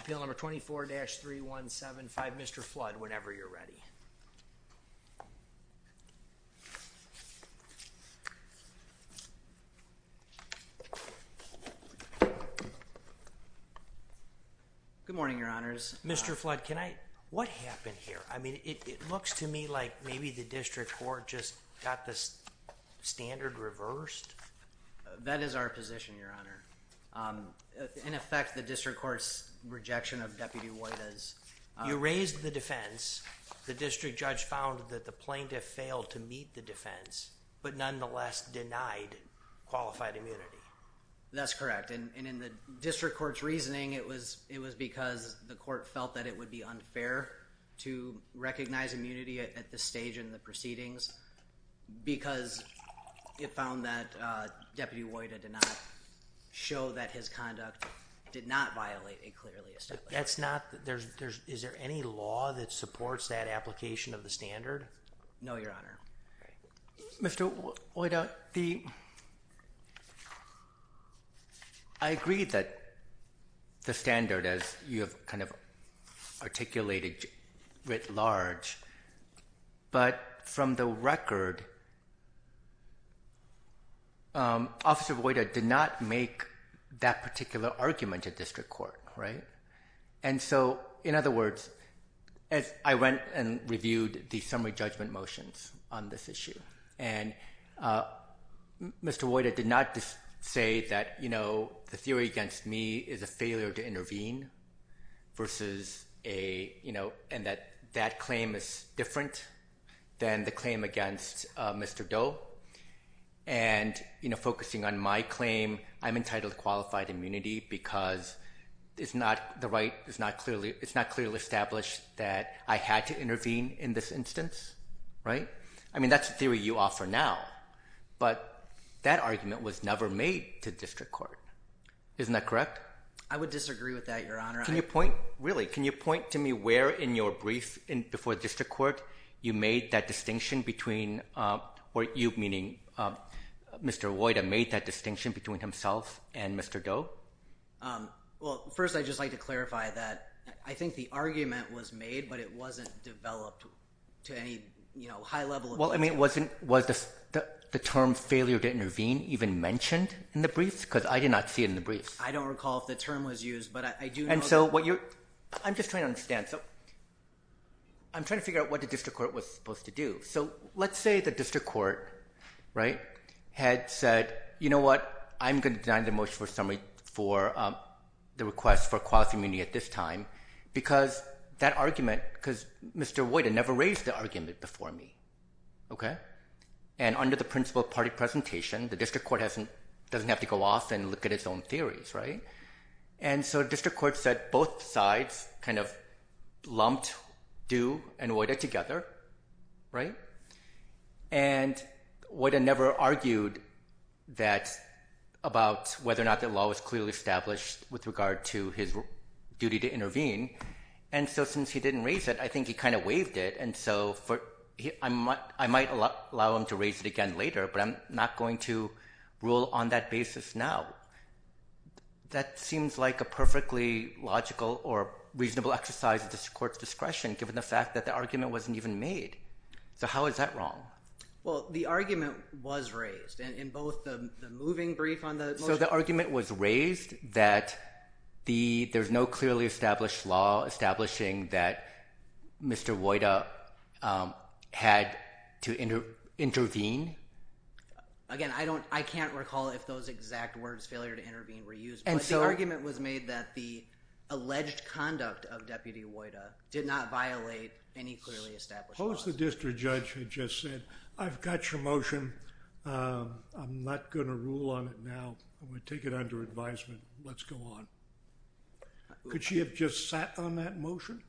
Appeal number 24-3175, Mr. Flood, whenever you're ready. Good morning, your honors. Mr. Flood, can I... What happened here? I mean, it looks to me like maybe the district court just got the standard reversed. That is our position, your honor. In effect, the district court's rejection of Deputy Woyda's... You raised the defense. The district judge found that the plaintiff failed to meet the defense, but nonetheless denied qualified immunity. That's correct. And in the district court's reasoning, it was because the court felt that it would be unfair to recognize immunity at this stage in the proceedings because it found that Deputy Woyda did not show that his conduct did not violate a clearly established... That's not... There's... Is there any law that supports that application of the standard? No, your honor. Mr. Woyda, the... I agree that the standard, as you have articulated writ large, but from the record, Officer Woyda did not make that particular argument at district court, right? And so, in other words, as I went and reviewed the summary judgment motions on this issue, and Mr. Woyda did not say that the theory against me is a failure to intervene versus a... And that that claim is different than the claim against Mr. Doe. And focusing on my claim, I'm entitled to qualified immunity because it's not the right... It's not clearly established that I had to intervene in this instance, right? I mean, that's the theory you offer now, but that argument was never made to district court. Isn't that correct? I would disagree with that, your honor. Can you point... Really, can you point to me where in your brief before district court you made that distinction between... Or you, meaning Mr. Woyda, made that distinction between himself and Mr. Doe? Well, first, I'd just like to clarify that I think the argument was made, but it wasn't developed to any high level of detail. Well, I mean, was the term failure to intervene even mentioned in the briefs? Because I did not see it in the briefs. I don't recall if the term was used, but I do know that... And so what you're... I'm just trying to understand. I'm trying to figure out what the district court was supposed to do. So let's say the district court, right, had said, you know what? I'm going to deny the motion for summary for the request for qualified immunity at this time, because that argument... Because Mr. Woyda never raised the argument before me, okay? And under the principle of party presentation, the district court doesn't have to go off and look at its own theories, right? And so district court said both sides kind of lumped Doe and Woyda together, right? And Woyda never argued that about whether or not the law was clearly established with regard to his duty to intervene. And so since he didn't raise it, I think he kind of waived it. And so I might allow him to raise it again later, but I'm not going to rule on that basis now. That seems like a perfectly logical or reasonable exercise of the court's discretion, given the fact that the argument wasn't even made. So how is that wrong? Well, the argument was raised in both the moving brief on the motion... The argument was raised that there's no clearly established law establishing that Mr. Woyda had to intervene. Again, I can't recall if those exact words, failure to intervene, were used, but the argument was made that the alleged conduct of Deputy Woyda did not violate any clearly established laws. Suppose the district judge had just said, I've got your motion. I'm not going to rule on it now. I'm going to take it under advisement. Let's go on. Could she have just sat on that motion?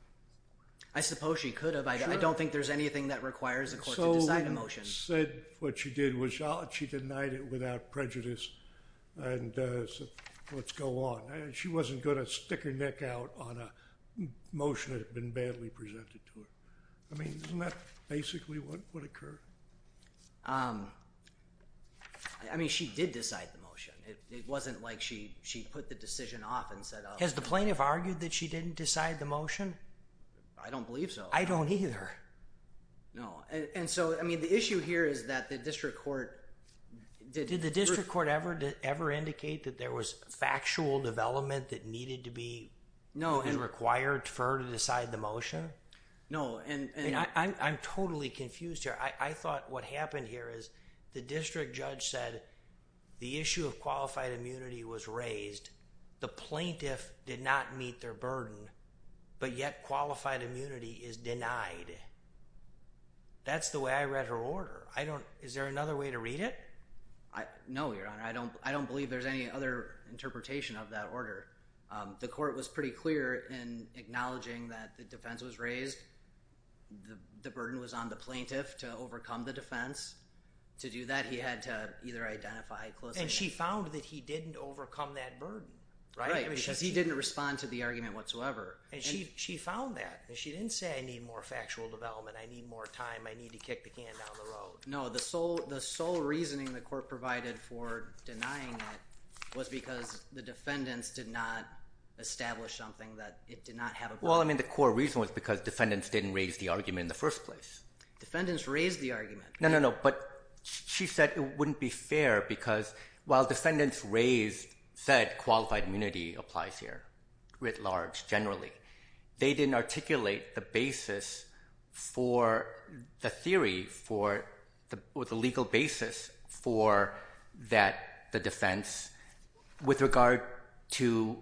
I suppose she could have. I don't think there's anything that requires a court to decide a motion. So she said what she did was she denied it without prejudice and said, let's go on. She wasn't going to stick her neck out on a motion that had been badly presented to her. Isn't that basically what would occur? She did decide the motion. It wasn't like she put the decision off and said... Has the plaintiff argued that she didn't decide the motion? I don't believe so. I don't either. No. The issue here is that the district court... Did the district court ever indicate that there was factual development that needed to be required for her to decide the motion? No. I'm totally confused here. I thought what happened here is the district judge said the issue of qualified immunity was raised. The plaintiff did not meet their burden, but yet qualified immunity is denied. That's the way I read her order. Is there another way to read it? No, Your Honor. I don't believe there's any other interpretation of that order. The court was pretty clear in acknowledging that the defense was raised. The burden was on the plaintiff to overcome the defense. To do that, he had to either identify... She found that he didn't overcome that burden, right? Right. Because he didn't respond to the argument whatsoever. She found that. She didn't say, I need more factual development. I need more time. I need to kick the can down the road. No. The sole reasoning the court provided for denying it was because the defendants did not establish something that it did not have a burden on. The core reason was because defendants didn't raise the argument in the first place. Defendants raised the argument. No, no, no. But she said it wouldn't be fair because while defendants said qualified immunity applies here, writ large, generally, they didn't articulate the basis for the theory or the legal basis for the defense with regard to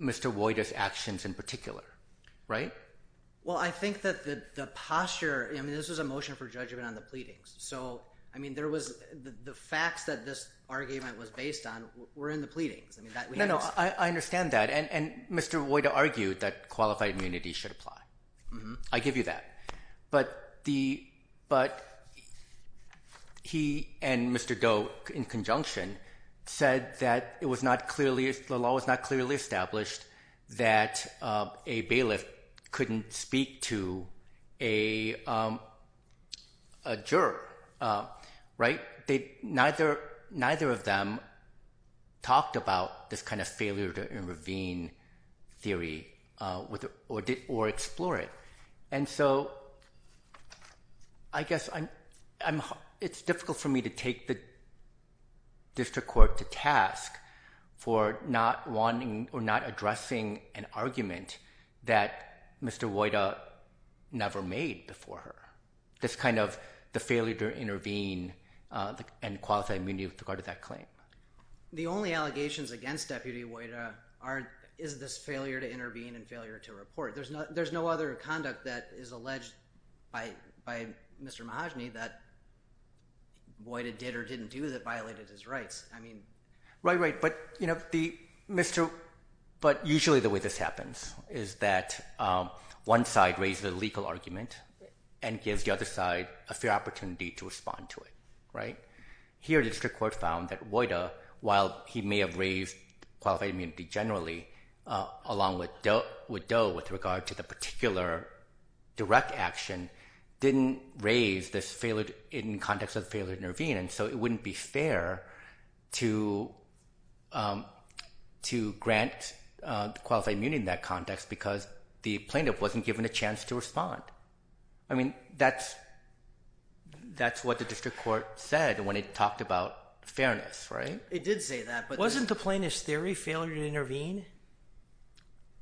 Mr. Wojda's actions in particular, right? Well, I think that the posture... This was a motion for judgment on the pleadings. The facts that this argument was based on were in the pleadings. No, no. I understand that. And Mr. Wojda argued that qualified immunity should apply. I give you that. But he and Mr. Doe, in conjunction, said that the law was not clearly established that a bailiff couldn't speak to a juror, right? Neither of them talked about this kind of failure to intervene theory or explore it. And so I guess it's difficult for me to take the district court to task for not addressing an argument that Mr. Wojda never made before her. This kind of the failure to intervene and qualify immunity with regard to that claim. The only allegations against Deputy Wojda is this failure to intervene and failure to report. There's no other conduct that is alleged by Mr. Mahajani that Wojda did or didn't do that violated his rights. I mean... Right, right. But usually the way this happens is that one side raises a legal argument and gives the other side a fair opportunity to respond to it, right? Here the district court found that Wojda, while he may have raised qualified immunity generally along with Doe with regard to the particular direct action, didn't raise this failure in context of the failure to intervene. And so it wouldn't be fair to grant qualified immunity in that context because the plaintiff wasn't given a chance to respond. I mean, that's what the district court said when it talked about fairness, right? It did say that, but... Wasn't the plaintiff's theory failure to intervene?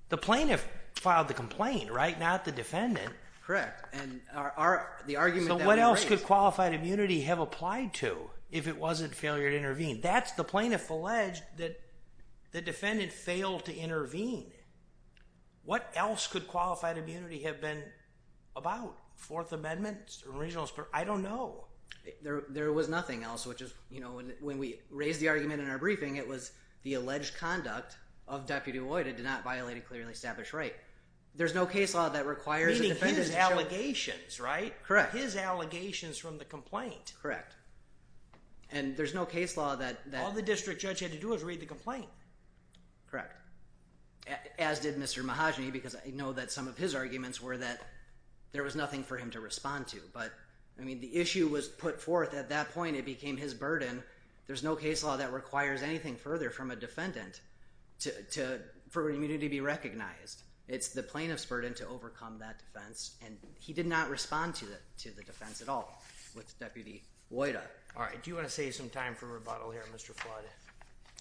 The plaintiff filed the complaint, right? Not the defendant. Correct. And the argument that he raised... So what else could qualified immunity have applied to if it wasn't failure to intervene? That's the plaintiff alleged that the defendant failed to intervene. What else could qualified immunity have been about? Fourth Amendment, original... I don't know. There was nothing else, which is, you know, when we raised the argument in our briefing, it was the alleged conduct of Deputy Wojda did not violate a clearly established right. There's no case law that requires a defendant to show... Meaning his allegations, right? Correct. His allegations from the complaint. Correct. And there's no case law that... All the district judge had to do was read the complaint. Correct. As did Mr. Mahajani, because I know that some of his arguments were that there was nothing for him to respond to. But, I mean, the issue was put forth at that point, it became his burden. There's no case law that requires anything further from a defendant for immunity to be It's the plaintiff's burden to overcome that defense, and he did not respond to the defense at all with Deputy Wojda. All right. Do you want to save some time for rebuttal here, Mr. Flood?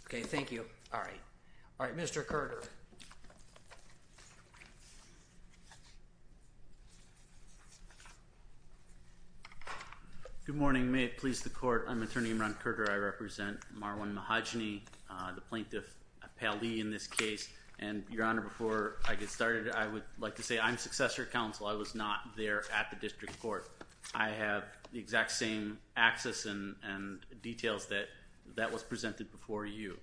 Okay. Thank you. All right. All right. Mr. Kerger. Good morning. May it please the court. I'm Attorney Ron Kerger. I represent Marwan Mahajani, the plaintiff, a pally in this case. And, Your Honor, before I get started, I would like to say I'm successor counsel. I was not there at the district court. I have the exact same access and details that was presented before you.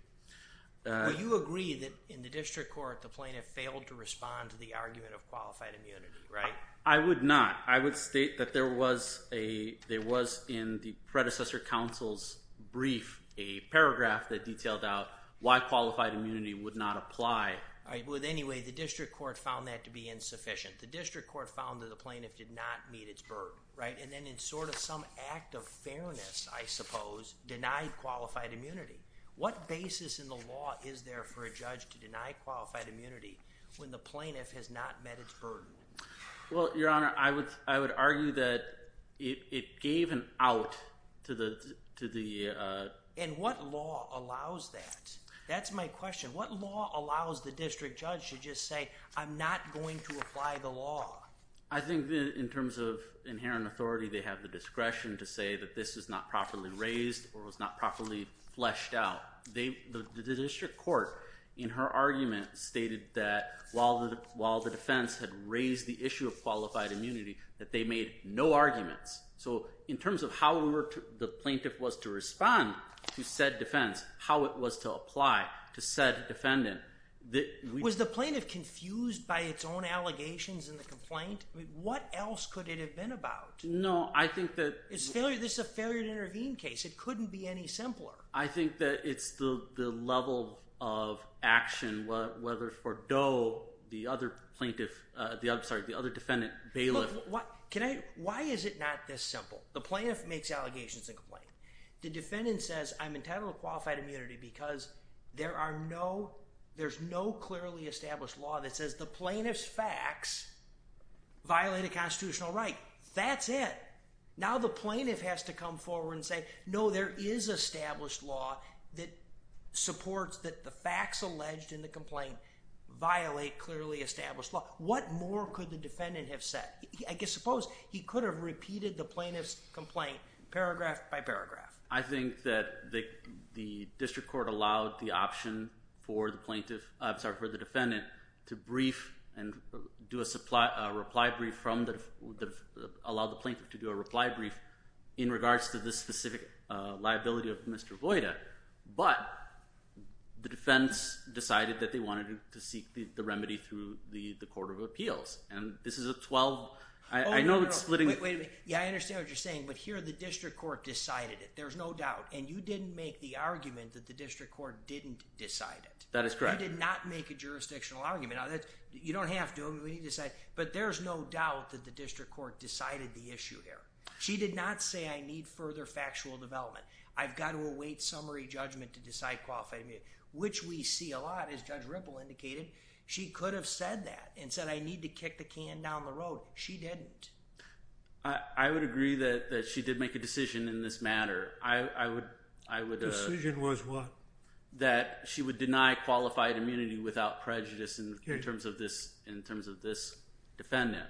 Well, you agree that in the district court, the plaintiff failed to respond to the argument of qualified immunity, right? I would not. I would state that there was, in the predecessor counsel's brief, a paragraph that detailed out why qualified immunity would not apply. Well, anyway, the district court found that to be insufficient. The district court found that the plaintiff did not meet its burden, right? And then in sort of some act of fairness, I suppose, denied qualified immunity. What basis in the law is there for a judge to deny qualified immunity when the plaintiff has not met its burden? Well, Your Honor, I would argue that it gave an out to the... And what law allows that? That's my question. What law allows the district judge to just say, I'm not going to apply the law? I think in terms of inherent authority, they have the discretion to say that this is not properly raised or was not properly fleshed out. The district court, in her argument, stated that while the defense had raised the issue of qualified immunity, that they made no arguments. So, in terms of how the plaintiff was to respond to said defense, how it was to apply to said defendant... Was the plaintiff confused by its own allegations in the complaint? I mean, what else could it have been about? No, I think that... This is a failure to intervene case. It couldn't be any simpler. I think that it's the level of action, whether for Doe, the other defendant, Bailiff... Look, why is it not this simple? The plaintiff makes allegations in the complaint. The defendant says, I'm entitled to qualified immunity because there's no clearly established law that says the plaintiff's facts violate a constitutional right. That's it. Now, the plaintiff has to come forward and say, no, there is established law that supports that the facts alleged in the complaint violate clearly established law. What more could the defendant have said? I guess, suppose he could have repeated the plaintiff's complaint paragraph by paragraph. I think that the district court allowed the option for the plaintiff... I'm sorry, for the defendant to brief and do a reply brief from the... Allow the plaintiff to do a reply brief in regards to the specific liability of Mr. Voida. But, the defense decided that they wanted to seek the remedy through the court of appeals. And, this is a 12... I know it's splitting... Wait a minute. Yeah, I understand what you're saying. But, here, the district court decided it. There's no doubt. And, you didn't make the argument that the district court didn't decide it. That is correct. You did not make a jurisdictional argument. You don't have to. We need to decide. But, there's no doubt that the district court decided the issue here. She did not say, I need further factual development. I've got to await summary judgment to decide qualified immunity, which we see a lot. As Judge Ripple indicated, she could have said that and said, I need to kick the can down the road. She didn't. I would agree that she did make a decision in this matter. I would... The decision was what? That she would deny qualified immunity without prejudice in terms of this defendant.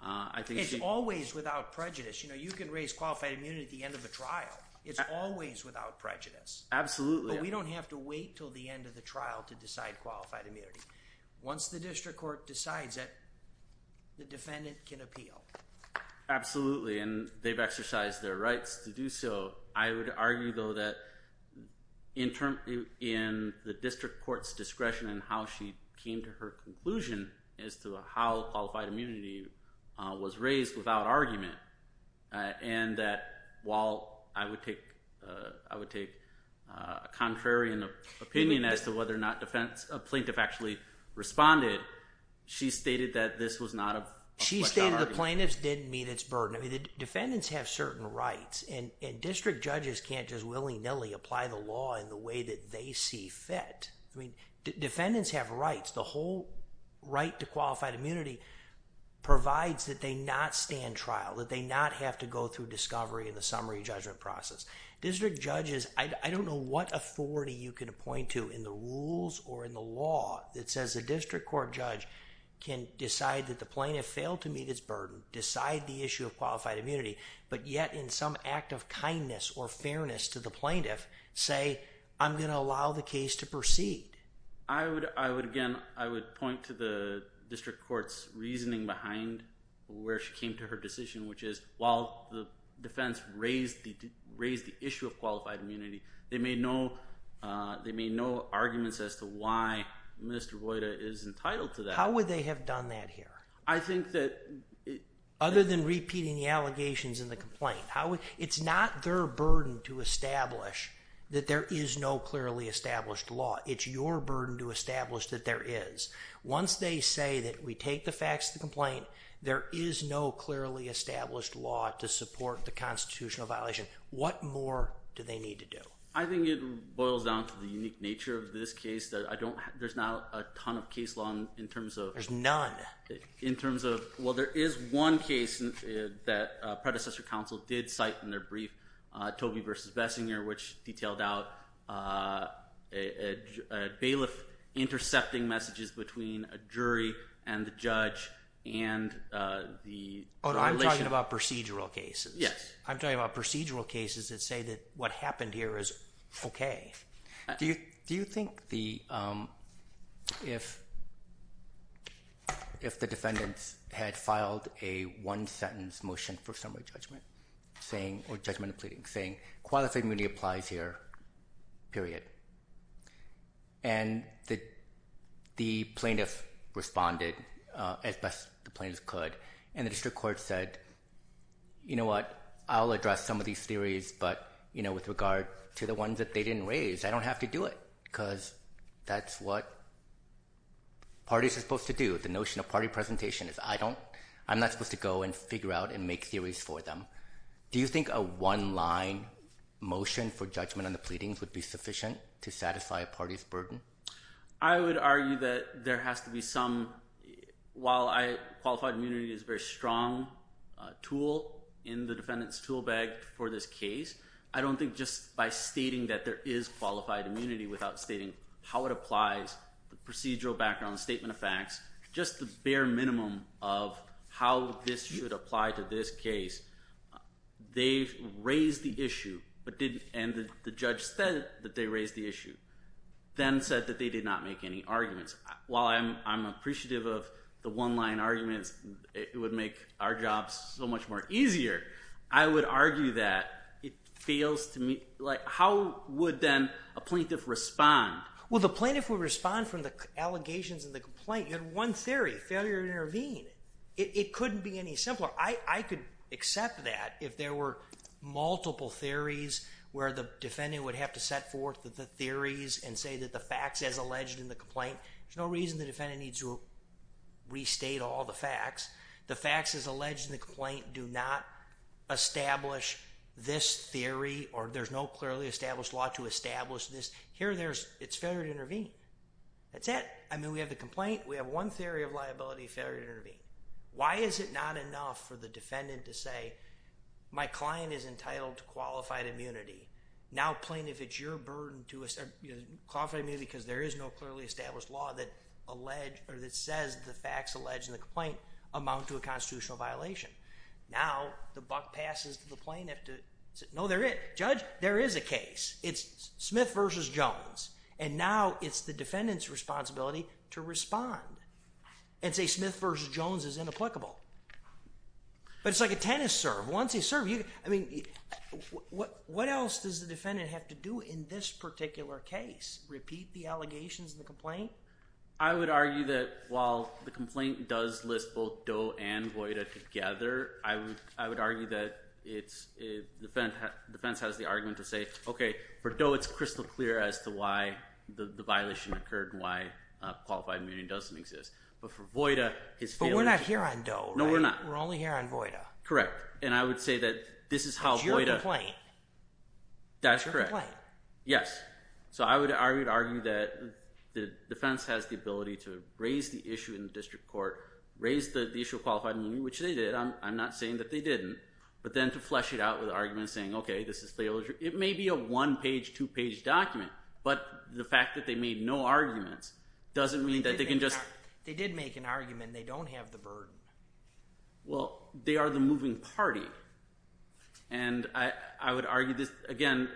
I think she... It's always without prejudice. You know, you can raise qualified immunity at the end of a trial. It's always without prejudice. Absolutely. But, we don't have to wait until the end of the trial to decide qualified immunity. Once the district court decides it, the defendant can appeal. Absolutely. And, they've exercised their rights to do so. I would argue, though, that in the district court's discretion in how she came to her conclusion as to how qualified immunity was raised without argument. And, that while I would take a contrarian opinion as to whether or not a plaintiff actually responded, she stated that this was not a... She stated the plaintiffs didn't meet its burden. I mean, the defendants have certain rights. And, district judges can't just willy-nilly apply the law in the way that they see fit. I mean, defendants have rights. The whole right to qualified immunity provides that they not stand trial, that they not have to go through discovery in the summary judgment process. District judges... I don't know what authority you can appoint to in the rules or in the law that says a district court judge can decide that the plaintiff failed to meet its burden, decide the issue of qualified immunity. But yet, in some act of kindness or fairness to the plaintiff, say, I'm going to allow the case to proceed. I would, again, I would point to the district court's reasoning behind where she came to her decision, which is, while the defense raised the issue of qualified immunity, they made no arguments as to why Mr. Voyda is entitled to that. How would they have done that here? I think that... Other than repeating the allegations in the complaint. It's not their burden to establish that there is no clearly established law. It's your burden to establish that there is. Once they say that we take the facts of the complaint, there is no clearly established law to support the constitutional violation. What more do they need to do? I think it boils down to the unique nature of this case that I don't... there's not a ton of case law in terms of... There's none. In terms of... well, there is one case that predecessor counsel did cite in their brief, Tobey v. Bessinger, which detailed out a bailiff intercepting messages between a jury and the judge and the... I'm talking about procedural cases. Yes. I'm talking about procedural cases that say that what happened here is okay. Do you think the... if the defendants had filed a one-sentence motion for summary judgment saying... or judgment of pleading, saying qualified immunity applies here, period, and the plaintiff responded as best the plaintiffs could, and the district court said, you know what, I'll address some of these theories, but, you know, with regard to the ones that they didn't raise, I don't have to do it because that's what parties are supposed to do. The notion of party presentation is I don't... I'm not supposed to go and figure out and make theories for them. Do you think a one-line motion for judgment on the pleadings would be sufficient to satisfy a party's burden? I would argue that there has to be some... while I... qualified immunity is a very strong tool in the defendant's tool bag for this case, I don't think just by stating that there is qualified immunity without stating how it applies, the procedural background, the statement of facts, just the bare minimum of how this should apply to this case. They raised the issue, but didn't... and the judge said that they raised the issue, then said that they did not make any arguments. While I'm appreciative of the one-line arguments, it would make our jobs so much more easier, I would argue that it fails to... like, how would then a plaintiff respond? Well, the plaintiff would respond from the allegations and the complaint. You had one theory, failure to intervene. It couldn't be any simpler. So, I could accept that if there were multiple theories where the defendant would have to set forth the theories and say that the facts as alleged in the complaint. There's no reason the defendant needs to restate all the facts. The facts as alleged in the complaint do not establish this theory or there's no clearly established law to establish this. Here, there's... it's failure to intervene. That's it. I mean, we have the complaint. We have one theory of liability, failure to intervene. Why is it not enough for the defendant to say, my client is entitled to qualified immunity. Now, plaintiff, it's your burden to qualify immunity because there is no clearly established law that says the facts alleged in the complaint amount to a constitutional violation. Now, the buck passes to the plaintiff to say, no, they're it. Judge, there is a case. It's Smith versus Jones. And now, it's the defendant's responsibility to respond. And say Smith versus Jones is inapplicable. But it's like a tennis serve. Once you serve, you... I mean, what else does the defendant have to do in this particular case? Repeat the allegations in the complaint? I would argue that while the complaint does list both Doe and Voida together, I would argue that it's... defense has the argument to say, okay, for Doe, it's crystal clear as to why the violation occurred and why qualified immunity doesn't exist. But for Voida, his... But we're not here on Doe, right? No, we're not. We're only here on Voida. Correct. And I would say that this is how Voida... That's correct. It's your complaint. Yes. So, I would argue that the defense has the ability to raise the issue in the district court, raise the issue of qualified immunity, which they did. I'm not saying that they didn't. But then to flesh it out with arguments saying, okay, this is... it may be a one-page, two-page document. But the fact that they made no arguments doesn't mean that they can just... They did make an argument. They don't have the burden. Well, they are the moving party. And I would argue that, again,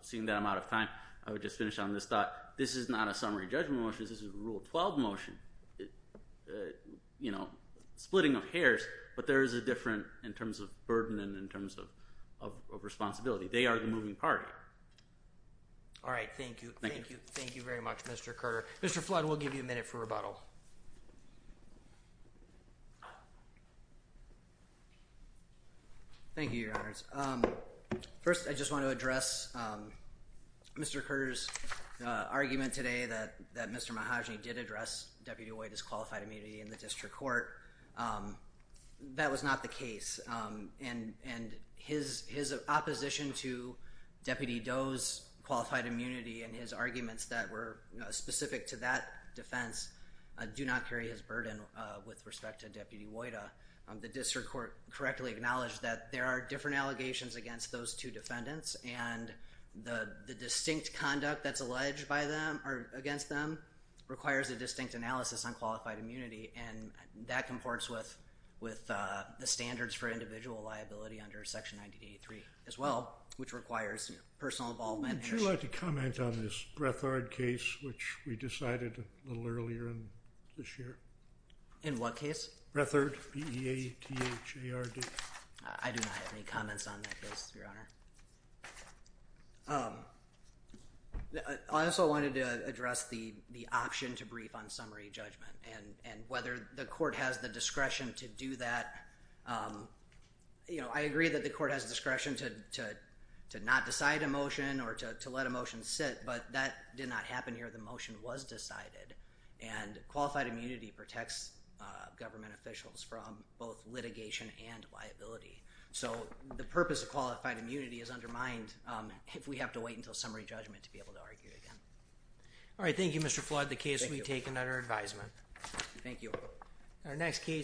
seeing that I'm out of time, I would just finish on this thought. This is not a summary judgment motion. This is a Rule 12 motion, you know, splitting of hairs. But there is a difference in terms of burden and in terms of responsibility. They are the moving party. All right. Thank you. Thank you. Thank you very much, Mr. Carter. Mr. Flood, we'll give you a minute for rebuttal. Thank you, Your Honors. First, I just want to address Mr. Carter's argument today that Mr. Mahojani did address Deputy Wojda's qualified immunity in the district court. That was not the case. And his opposition to Deputy Doe's qualified immunity and his arguments that were specific to that defense do not carry his burden with respect to Deputy Wojda. The district court correctly acknowledged that there are different allegations against those two defendants, and the distinct conduct that's alleged by them or against them requires a distinct analysis on qualified immunity. And that comports with the standards for individual liability under Section 983 as well, which requires personal involvement. Would you like to comment on this Brethard case, which we decided a little earlier this year? In what case? Brethard, B-E-A-T-H-A-R-D. I do not have any comments on that case, Your Honor. I also wanted to address the option to brief on summary judgment and whether the court has the discretion to do that. I agree that the court has discretion to not decide a motion or to let a motion sit, but that did not happen here. The motion was decided. And qualified immunity protects government officials from both litigation and liability. So the purpose of qualified immunity is undermined if we have to wait until summary judgment to be able to argue again. All right. Thank you, Mr. Flood. The case will be taken under advisement. Thank you.